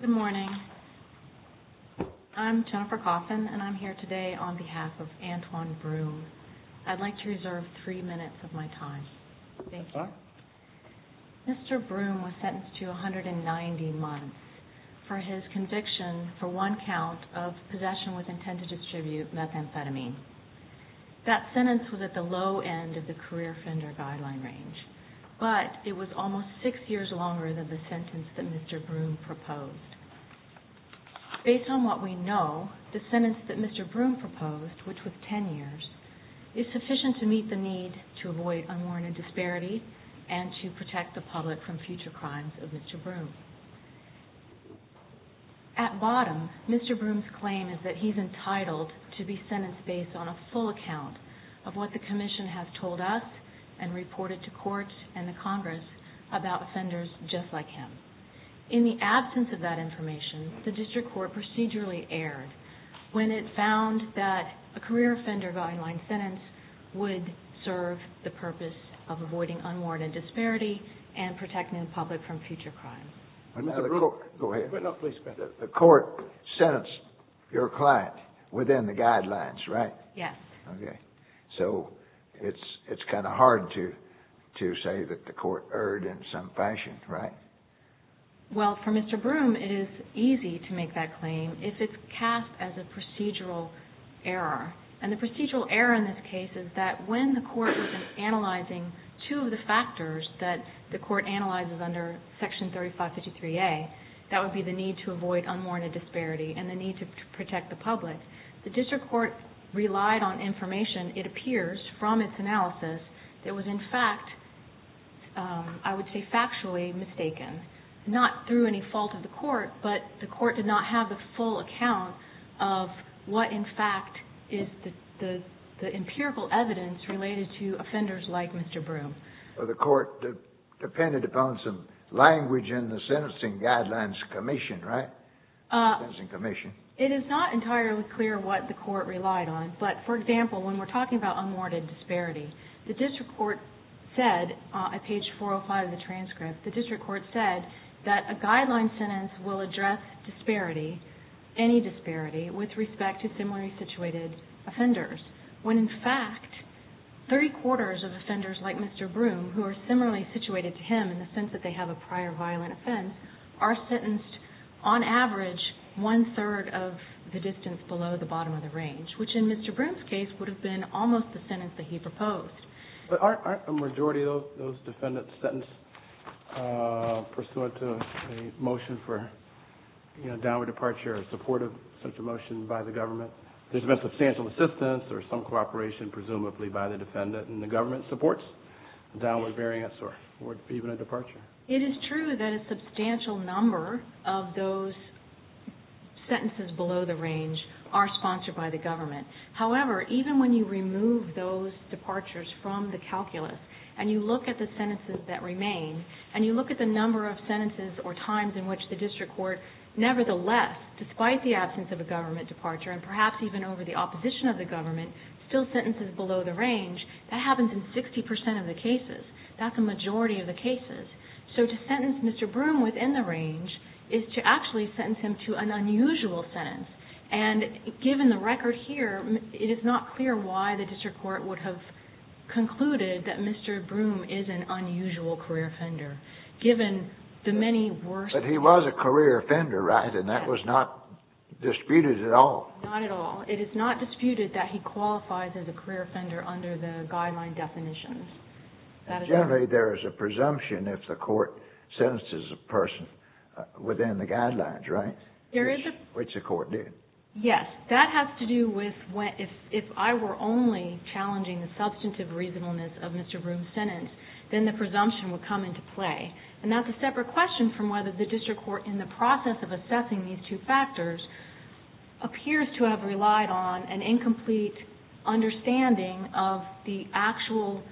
Good morning. I'm Jennifer Coffin and I'm here today on behalf of Antwon Broome. I'd like to reserve 3 minutes of my time. Thank you. Mr. Broome was sentenced to 190 months for his conviction for one count of possession with intent to distribute methamphetamine. That sentence was at the low end of the career offender guideline range, but it was almost 6 years longer than the sentence that Mr. Broome proposed. Based on what we know, the sentence that Mr. Broome proposed, which was 10 years, is sufficient to meet the need to At bottom, Mr. Broome's claim is that he's entitled to be sentenced based on a full account of what the Commission has told us and reported to courts and the Congress about offenders just like him. In the absence of that information, the District Court procedurally erred when it found that a career offender guideline sentence would serve the purpose of avoiding unwarranted disparity and protecting the public from future crime. The court sentenced your client within the guidelines, right? Yes. So it's kind of hard to say that the court erred in some fashion, right? Well, for Mr. Broome, it is easy to make that claim if it's cast as a procedural error. And the procedural error in this case is that when the court was analyzing two of the factors that the court analyzes under Section 3553A, that would be the need to avoid unwarranted disparity and the need to protect the public, the District Court relied on information, it appears from its analysis, that was in fact, I would say factually mistaken. Not through any fault of the court, but the court did not have the full account of what in fact is the empirical evidence related to offenders like Mr. Broome. The court depended upon some language in the Sentencing Guidelines Commission, right? It is not entirely clear what the court relied on, but for example, when we're talking about unwarranted disparity, the District Court said at page 405 of the transcript, the District Court said that a guideline sentence will address disparity, any disparity, with respect to similarly situated offenders. When in fact, 30 quarters of offenders like Mr. Broome, who are similarly situated to him in the sense that they have a prior violent offense, are sentenced on average one-third of the distance below the bottom of the range, which in Mr. Broome's case would have been almost the sentence that he proposed. But aren't a majority of those defendants sentenced pursuant to a motion for, you know, a downward departure or support of such a motion by the government? There's been substantial assistance or some cooperation presumably by the defendant and the government supports a downward variance or even a departure. It is true that a substantial number of those sentences below the range are sponsored by the government. However, even when you remove those departures from the calculus and you look at the sentences that remain and you look at the number of sentences or times in which the District Court nevertheless, despite the absence of a government departure and perhaps even over the opposition of the government, still sentences below the range, that happens in 60% of the cases. That's a majority of the cases. So to sentence Mr. Broome within the range is to actually sentence him to an unusual sentence. And given the record here, it is not clear why the District Court would have concluded that Mr. Broome is an unusual career offender, given the many worst... But he was a career offender, right? And that was not disputed at all? Not at all. It is not disputed that he qualifies as a career offender under the guideline definitions. Generally, there is a presumption if the court sentences a person within the guidelines, right? There is a... Which the court did. Yes. That has to do with if I were only challenging the substantive reasonableness of Mr. Broome's sentence, then the presumption would come into play. And that's a separate question from whether the District Court, in the process of assessing these two factors, appears to have relied on an incomplete understanding of the actual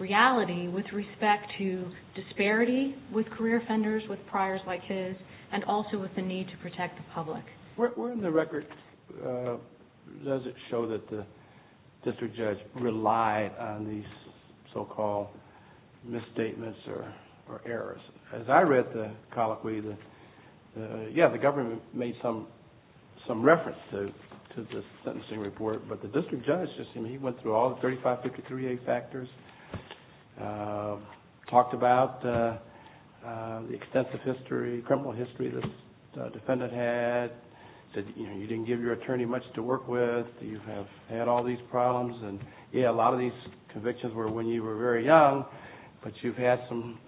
reality with respect to disparity with career offenders, with priors like his, and also with the need to protect the public. Where in the record does it show that the district judge relied on these so-called misstatements or errors? As I read the colloquy, yeah, the government made some reference to this sentencing report, but the district judge, he went through all the 3553A factors, talked about the extensive criminal history this defendant had, said you didn't give your attorney much to work with, you have had all these problems. And yeah, a lot of these convictions were when you were very young, but you've had some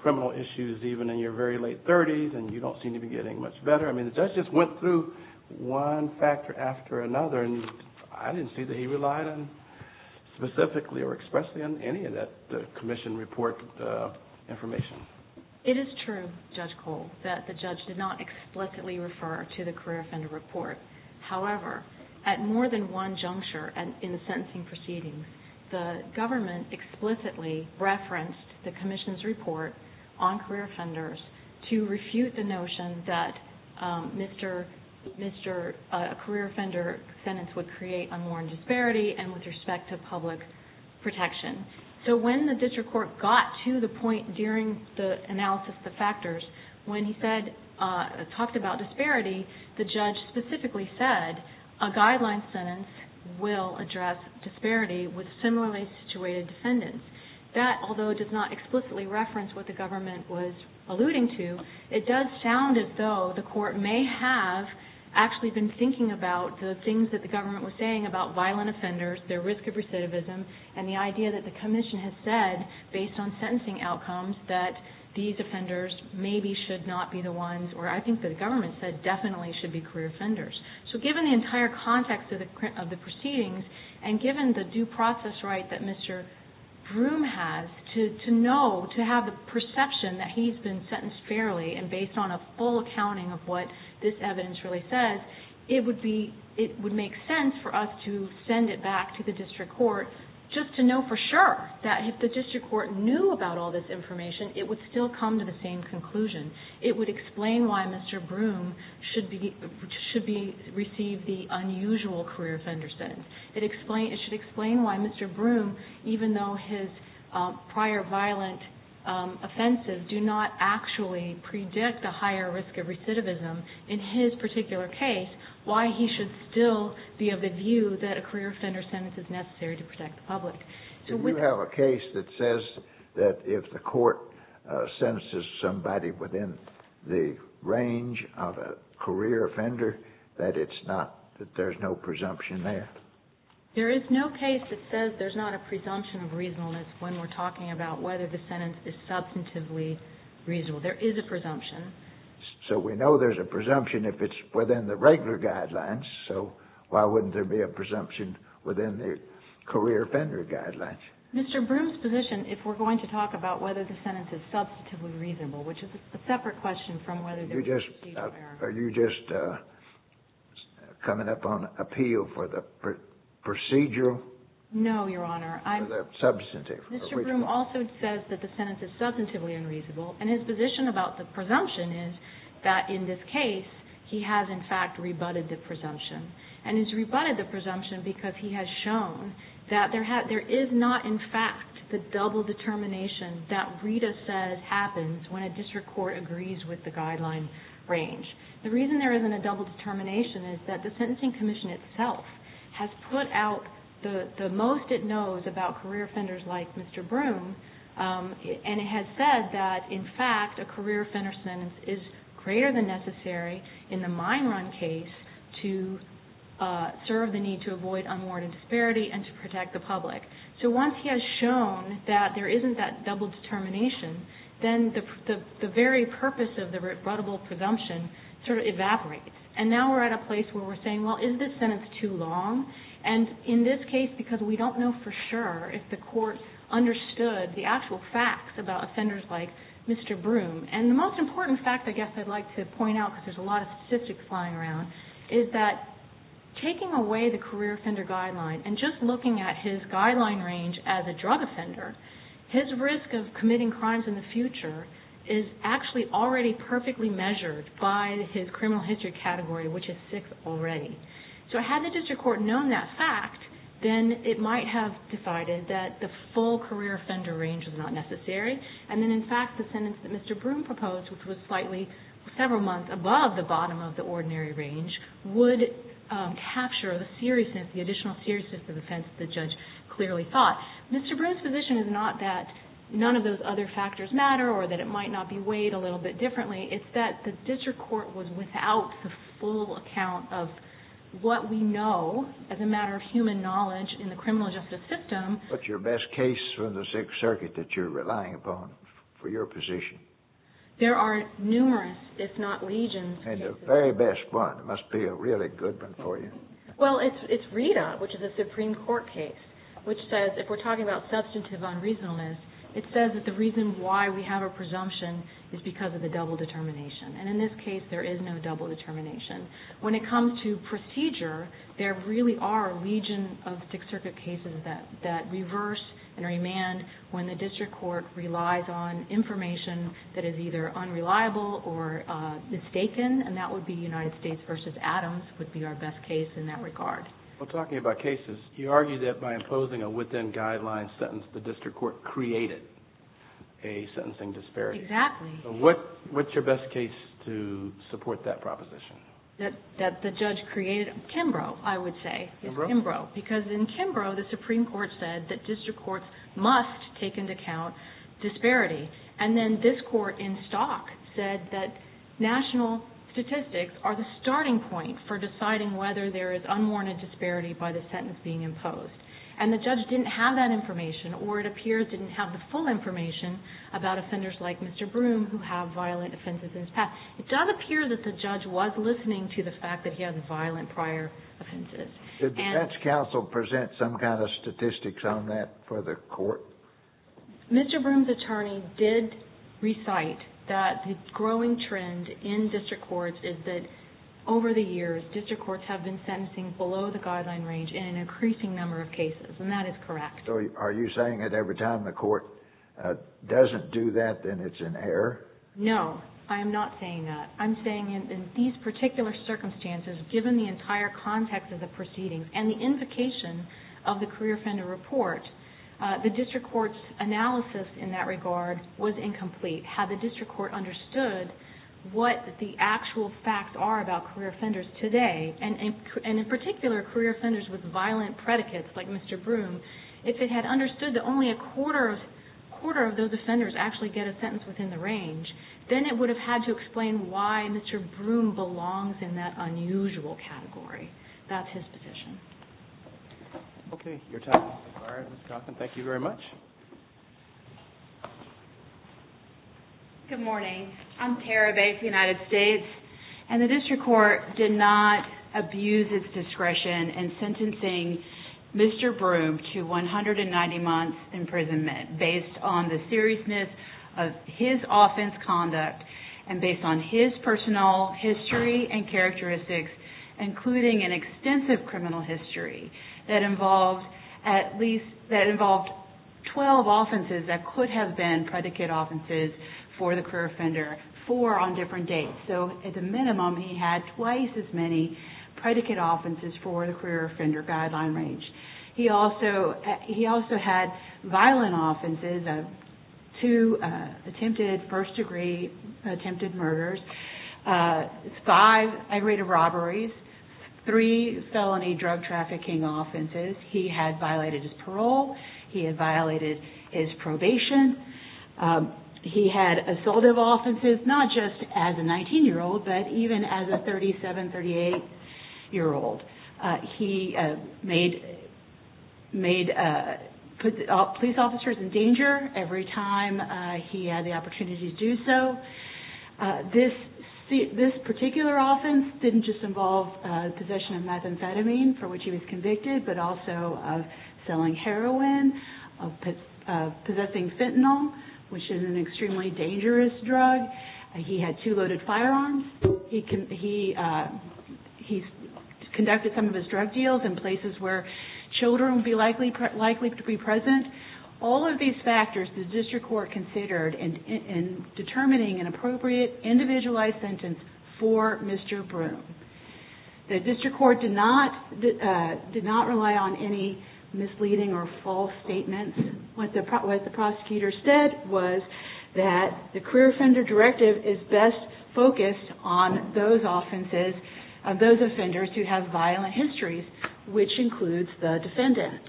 criminal issues even in your very late 30s, and you don't seem to be getting much better. I mean, the judge just went through one factor after another, and I didn't see that he relied on specifically or expressly on any of that commission report information. It is true, Judge Cole, that the judge did not explicitly refer to the career offender report. However, at more than one juncture in the sentencing proceedings, the government explicitly referenced the commission's report on career offenders to refute the notion that a career offender sentence would create unwarranted disparity and with respect to public protection. So when the district court got to the point during the analysis of the factors, when he said, talked about disparity, the judge specifically said a guideline sentence will address disparity with similarly situated defendants. That, although it does not explicitly reference what the government was alluding to, it does sound as though the court may have actually been thinking about the things that the government was saying about violent offenders, their risk of recidivism, and the idea that the commission has said, based on sentencing outcomes, that these offenders maybe should not be the ones, or I think that the government said definitely should be career offenders. So given the entire context of the proceedings, and given the due process right that Mr. Broome has, to know, to have the perception that he's been sentenced fairly and based on a full accounting of what this evidence really says, it would make sense for us to send it back to the district court just to know for sure that if the district court knew about all this information, it would still come to the same conclusion. It would explain why Mr. Broome should receive the unusual career offender sentence. It should explain why Mr. Broome, even though his prior violent offenses do not actually predict a higher risk of recidivism, in his particular case, why he should still be of the view that a career offender sentence is necessary to protect the public. Do you have a case that says that if the court sentences somebody within the range of a career offender, that there's no presumption there? There is no case that says there's not a presumption of reasonableness when we're talking about whether the sentence is substantively reasonable. There is a presumption. So we know there's a presumption if it's within the regular guidelines, so why wouldn't there be a presumption within the career offender guidelines? Mr. Broome's position, if we're going to talk about whether the sentence is substantively reasonable, which is a separate question from whether there's a procedural error. Are you just coming up on appeal for the procedural? No, Your Honor. For the substantive. Mr. Broome also says that the sentence is substantively unreasonable, and his position about the presumption is that in this case, he has, in fact, rebutted the presumption. And he's rebutted the presumption because he has shown that there is not, in fact, the double determination that Rita says happens when a district court agrees with the guideline range. The reason there isn't a double determination is that the Sentencing Commission itself has put out the most it knows about career offenders like Mr. Broome. And it has said that, in fact, a career offender sentence is greater than necessary in the mine run case to serve the need to avoid unwarranted disparity and to protect the public. So once he has shown that there isn't that double determination, then the very purpose of the rebuttable presumption sort of evaporates. And now we're at a place where we're saying, well, is this sentence too long? And in this case, because we don't know for sure if the court understood the actual facts about offenders like Mr. Broome. And the most important fact I guess I'd like to point out, because there's a lot of statistics lying around, is that taking away the career offender guideline and just looking at his guideline range as a drug offender, his risk of committing crimes in the future is actually already perfectly measured by his criminal history category, which is 6 already. So had the district court known that fact, then it might have decided that the full career offender range was not necessary. And then, in fact, the sentence that Mr. Broome proposed, which was slightly several months above the bottom of the ordinary range, would capture the seriousness, the additional seriousness of the offense the judge clearly thought. Mr. Broome's position is not that none of those other factors matter or that it might not be weighed a little bit differently. It's that the district court was without the full account of what we know as a matter of human knowledge in the criminal justice system. What's your best case from the Sixth Circuit that you're relying upon for your position? There are numerous, if not legions, cases. And the very best one must be a really good one for you. Well, it's Rita, which is a Supreme Court case, which says if we're talking about substantive unreasonableness, it says that the reason why we have a presumption is because of the double determination. And in this case, there is no double determination. When it comes to procedure, there really are a legion of Sixth Circuit cases that reverse and remand when the district court relies on information that is either unreliable or mistaken. And that would be United States v. Adams would be our best case in that regard. Well, talking about cases, you argue that by imposing a within-guidelines sentence, the district court created a sentencing disparity. Exactly. What's your best case to support that proposition? That the judge created Kimbrough, I would say. Kimbrough? Because in Kimbrough, the Supreme Court said that district courts must take into account disparity. And then this court in Stock said that national statistics are the starting point for deciding whether there is unwarranted disparity by the sentence being imposed. And the judge didn't have that information or it appears didn't have the full information about offenders like Mr. Broome who have violent offenses in his past. It does appear that the judge was listening to the fact that he has violent prior offenses. Did the defense counsel present some kind of statistics on that for the court? Mr. Broome's attorney did recite that the growing trend in district courts is that over the years, district courts have been sentencing below the guideline range in an increasing number of cases. And that is correct. So are you saying that every time the court doesn't do that, then it's in error? No, I am not saying that. I'm saying in these particular circumstances, given the entire context of the proceedings and the invocation of the career offender report, the district court's analysis in that regard was incomplete. Had the district court understood what the actual facts are about career offenders today, and in particular career offenders with violent predicates like Mr. Broome, if it had understood that only a quarter of those offenders actually get a sentence within the range, then it would have had to explain why Mr. Broome belongs in that unusual category. That's his position. Okay, your time is expired. Ms. Johnson, thank you very much. Good morning. I'm Tara Bates of the United States, and the district court did not abuse its discretion in sentencing Mr. Broome to 190 months imprisonment based on the seriousness of his offense conduct and based on his personal history and characteristics, including an extensive criminal history that involved 12 offenses that could have been predicate offenses for the career offender, four on different dates. So at the minimum, he had twice as many predicate offenses for the career offender guideline range. He also had violent offenses, two attempted first-degree attempted murders, five aggravated robberies, three felony drug trafficking offenses. He had violated his parole. He had violated his probation. He had assaultive offenses, not just as a 19-year-old, but even as a 37, 38-year-old. He made police officers in danger every time he had the opportunity to do so. This particular offense didn't just involve possession of methamphetamine, for which he was convicted, but also of selling heroin, of possessing fentanyl, which is an extremely dangerous drug. He had two loaded firearms. He conducted some of his drug deals in places where children would be likely to be present. All of these factors the district court considered in determining an appropriate individualized sentence for Mr. Broome. The district court did not rely on any misleading or false statements. What the prosecutor said was that the career offender directive is best focused on those offenses, those offenders who have violent histories, which includes the defendant.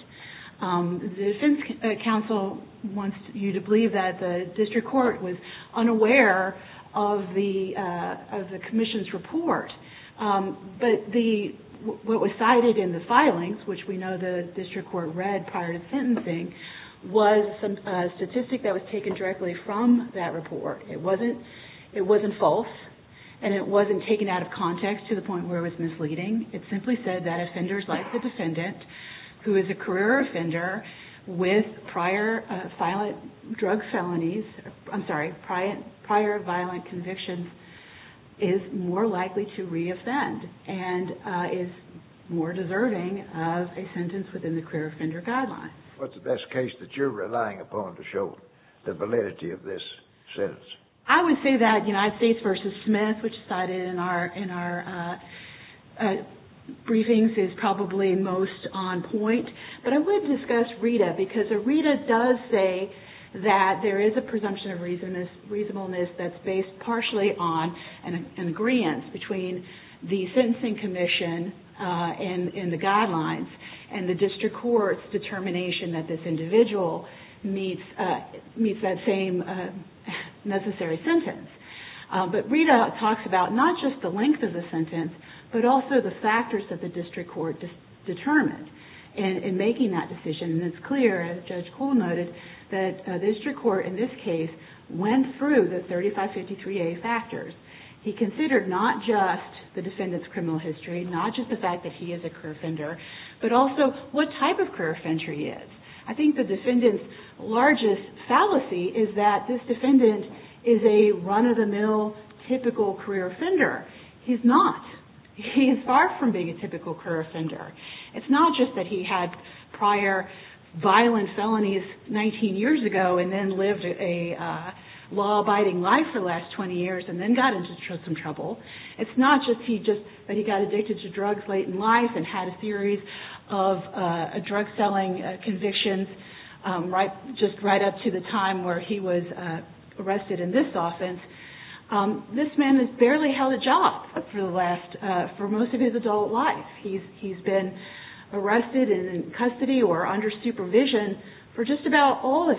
The defense counsel wants you to believe that the district court was unaware of the commission's report, but what was cited in the filings, which we know the district court read prior to sentencing, was a statistic that was taken directly from that report. It wasn't false, and it wasn't taken out of context to the point where it was misleading. It simply said that offenders like the defendant, who is a career offender with prior violent convictions, is more likely to re-offend and is more deserving of a sentence within the career offender guideline. What's the best case that you're relying upon to show the validity of this sentence? I would say that United States v. Smith, which is cited in our briefings, is probably most on point, but I would discuss Rita because Rita does say that there is a presumption of reasonableness that's based partially on an agreeance between the sentencing commission and the guidelines and the district court's determination that this individual meets that same necessary sentence. Rita talks about not just the length of the sentence, but also the factors that the district court determined in making that decision. It's clear, as Judge Cole noted, that the district court in this case went through the 3553A factors. He considered not just the defendant's criminal history, not just the fact that he is a career offender, but also what type of career offender he is. I think the defendant's largest fallacy is that this defendant is a run-of-the-mill, typical career offender. He's not. He is far from being a typical career offender. It's not just that he had prior violent felonies 19 years ago and then lived a law-abiding life for the last 20 years and then got into some trouble. It's not just that he got addicted to drugs late in life and had a series of drug-selling convictions just right up to the time where he was arrested in this offense. This man has barely held a job for most of his adult life. He's been arrested and in custody or under supervision for just about all of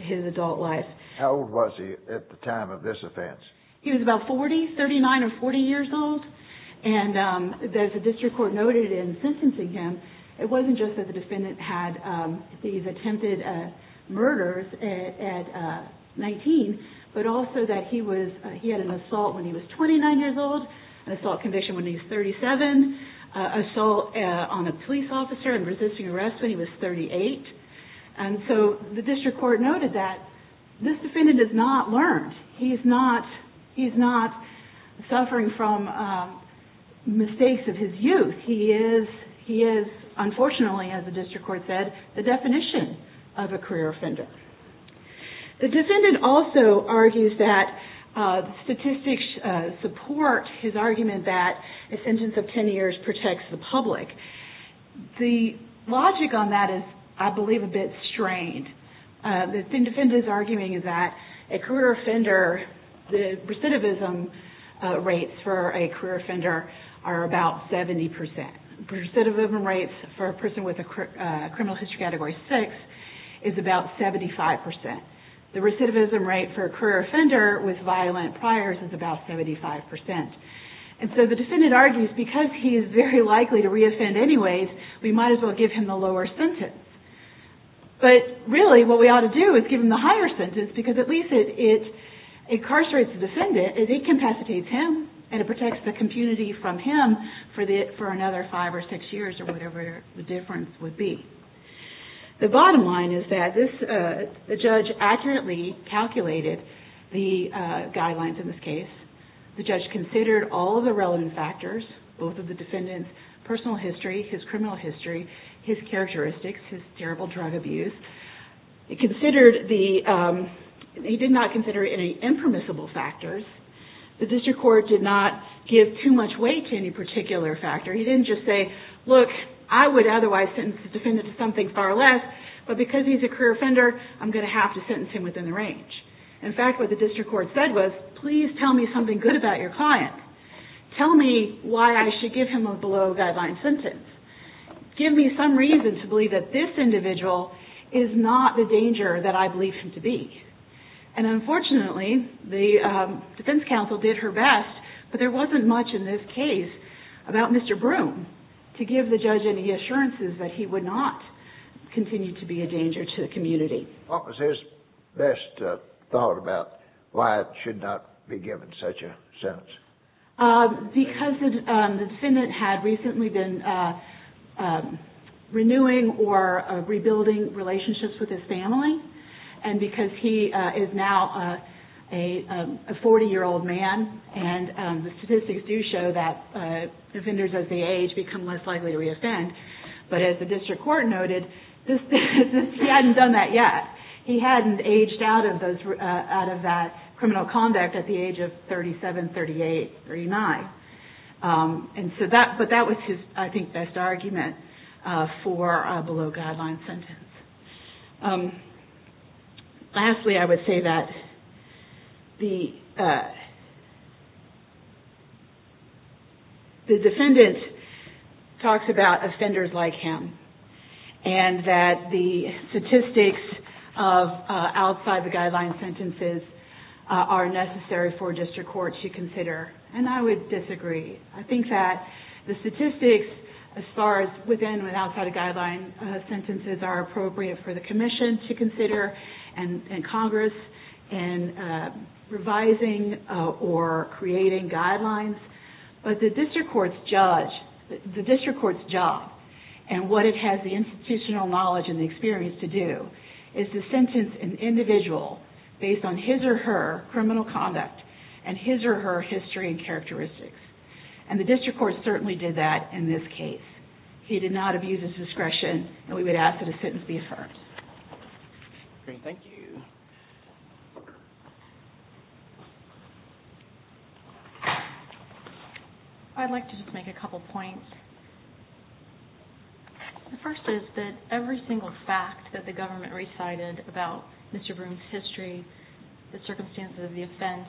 his adult life. How old was he at the time of this offense? He was about 40, 39 or 40 years old, and as the district court noted in sentencing him, it wasn't just that the defendant had these attempted murders at 19, but also that he had an assault when he was 29 years old, an assault conviction when he was 37, assault on a police officer and resisting arrest when he was 38. And so the district court noted that this defendant has not learned. He's not suffering from mistakes of his youth. He is, unfortunately, as the district court said, the definition of a career offender. The defendant also argues that statistics support his argument that a sentence of 10 years protects the public. The logic on that is, I believe, a bit strained. The defendant is arguing that a career offender, the recidivism rates for a career offender are about 70%. The recidivism rates for a person with a criminal history category 6 is about 75%. The recidivism rate for a career offender with violent priors is about 75%. And so the defendant argues, because he is very likely to re-offend anyways, we might as well give him the lower sentence. But really, what we ought to do is give him the higher sentence, because at least it incarcerates the defendant, and it incapacitates him, and it protects the community from him for another five or six years or whatever the difference would be. The bottom line is that the judge accurately calculated the guidelines in this case. The judge considered all of the relevant factors, both of the defendant's personal history, his criminal history, his characteristics, his terrible drug abuse. He did not consider any impermissible factors. The district court did not give too much weight to any particular factor. He didn't just say, look, I would otherwise sentence the defendant to something far less, but because he's a career offender, I'm going to have to sentence him within the range. In fact, what the district court said was, please tell me something good about your client. Tell me why I should give him a below-guideline sentence. Give me some reason to believe that this individual is not the danger that I believe him to be. And unfortunately, the defense counsel did her best, but there wasn't much in this case about Mr. Broome to give the judge any assurances that he would not continue to be a danger to the community. What was his best thought about why it should not be given such a sentence? Because the defendant had recently been renewing or rebuilding relationships with his family. And because he is now a 40-year-old man, and the statistics do show that offenders as they age become less likely to reoffend. But as the district court noted, he hadn't done that yet. He hadn't aged out of that criminal conduct at the age of 37, 38, 39. But that was his, I think, best argument for a below-guideline sentence. Lastly, I would say that the defendant talks about offending his client. And that the statistics of outside-the-guideline sentences are necessary for a district court to consider. And I would disagree. I think that the statistics as far as within and outside-the-guideline sentences are appropriate for the commission to consider and Congress in revising or creating guidelines. But the district court's job and what it has the institutional knowledge and the experience to do is to sentence an individual based on his or her criminal conduct and his or her history and characteristics. And the district court certainly did that in this case. He did not abuse his discretion, and we would ask that a sentence be affirmed. I'd like to just make a couple points. The first is that every single fact that the government recited about Mr. Broome's history, the circumstances of the offense,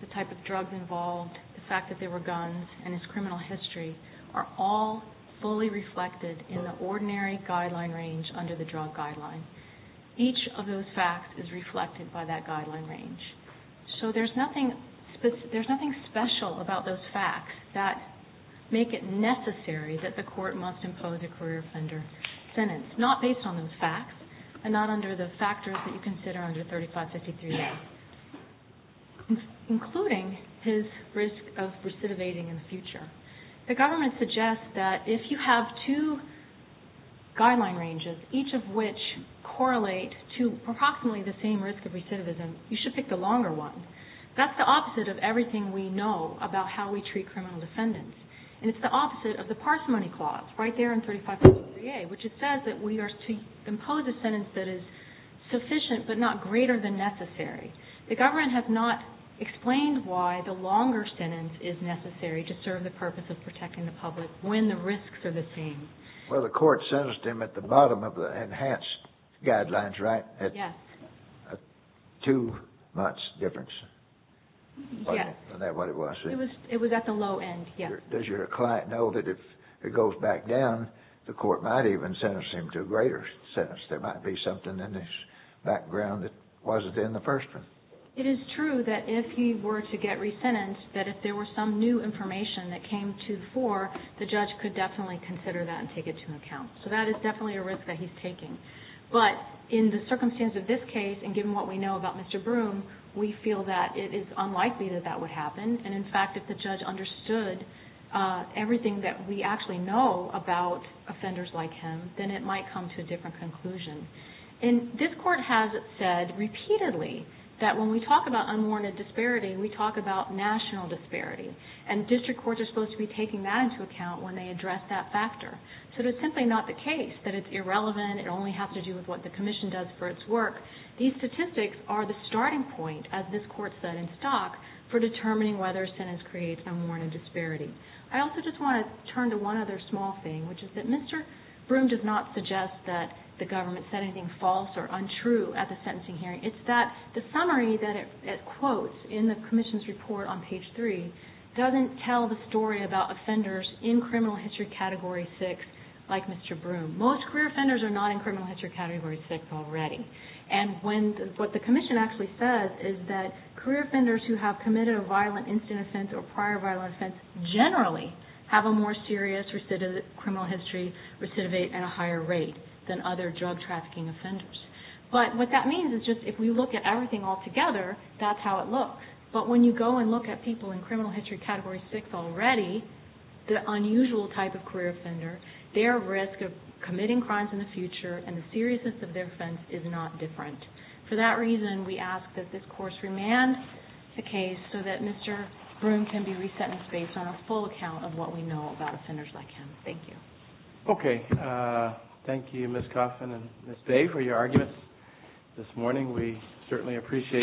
the type of drugs involved, the fact that there were guns, and his criminal history are all fully reflected in the ordinary guideline range under the drug guideline. Each of those facts is reflected by that guideline range. And there are a number of facts that make it necessary that the court must impose a career offender sentence, not based on those facts and not under the factors that you consider under 3553A, including his risk of recidivating in the future. The government suggests that if you have two guideline ranges, each of which correlate to approximately the same risk of recidivism, you should pick the longer one. That's the opposite of everything we know about how we treat criminal defendants, and it's the opposite of the parsimony clause right there in 3553A, which says that we are to impose a sentence that is sufficient but not greater than necessary. The government has not explained why the longer sentence is necessary to serve the purpose of protecting the public when the risks are the same. Well, the court sentenced him at the bottom of the enhanced guidelines, right? Yes. Two months difference. Yes. Isn't that what it was? It was at the low end, yes. Does your client know that if it goes back down, the court might even sentence him to a greater sentence? There might be something in his background that wasn't in the first one. It is true that if he were to get resentenced, that if there were some new information that came to the fore, the judge could definitely consider that and take it into account. So that is definitely a risk that he's taking. But in the circumstance of this case, and given what we know about Mr. Broome, we feel that it is unlikely that that would happen. And in fact, if the judge understood everything that we actually know about offenders like him, then it might come to a different conclusion. And this court has said repeatedly that when we talk about unwarranted disparity, we talk about national disparity, and district courts are supposed to be taking that into account when they address that factor. So it is simply not the case that it's irrelevant. It only has to do with what the commission does for its work. These statistics are the starting point, as this court said in stock, for determining whether a sentence creates unwarranted disparity. I also just want to turn to one other small thing, which is that Mr. Broome does not suggest that the government said anything false or untrue at the sentencing hearing. It's that the summary that it quotes in the commission's report on page 3 doesn't tell the story about offenders in criminal history category 6, and it doesn't tell the story about offenders in criminal history category 7. Most career offenders are not in criminal history category 6 already. And what the commission actually says is that career offenders who have committed a violent incident offense or prior violent offense generally have a more serious criminal history recidivate at a higher rate than other drug trafficking offenders. But what that means is just if we look at everything all together, that's how it looks. But when you go and look at people in criminal history category 6 already, the unusual type of career offender, their risk of committing crimes in the future and the seriousness of their offense is not different. For that reason, we ask that this course remand the case so that Mr. Broome can be resentenced based on a full account of what we know about offenders like him. Thank you. Okay. Thank you, Ms. Coffin and Ms. Day, for your arguments this morning. We certainly appreciate them.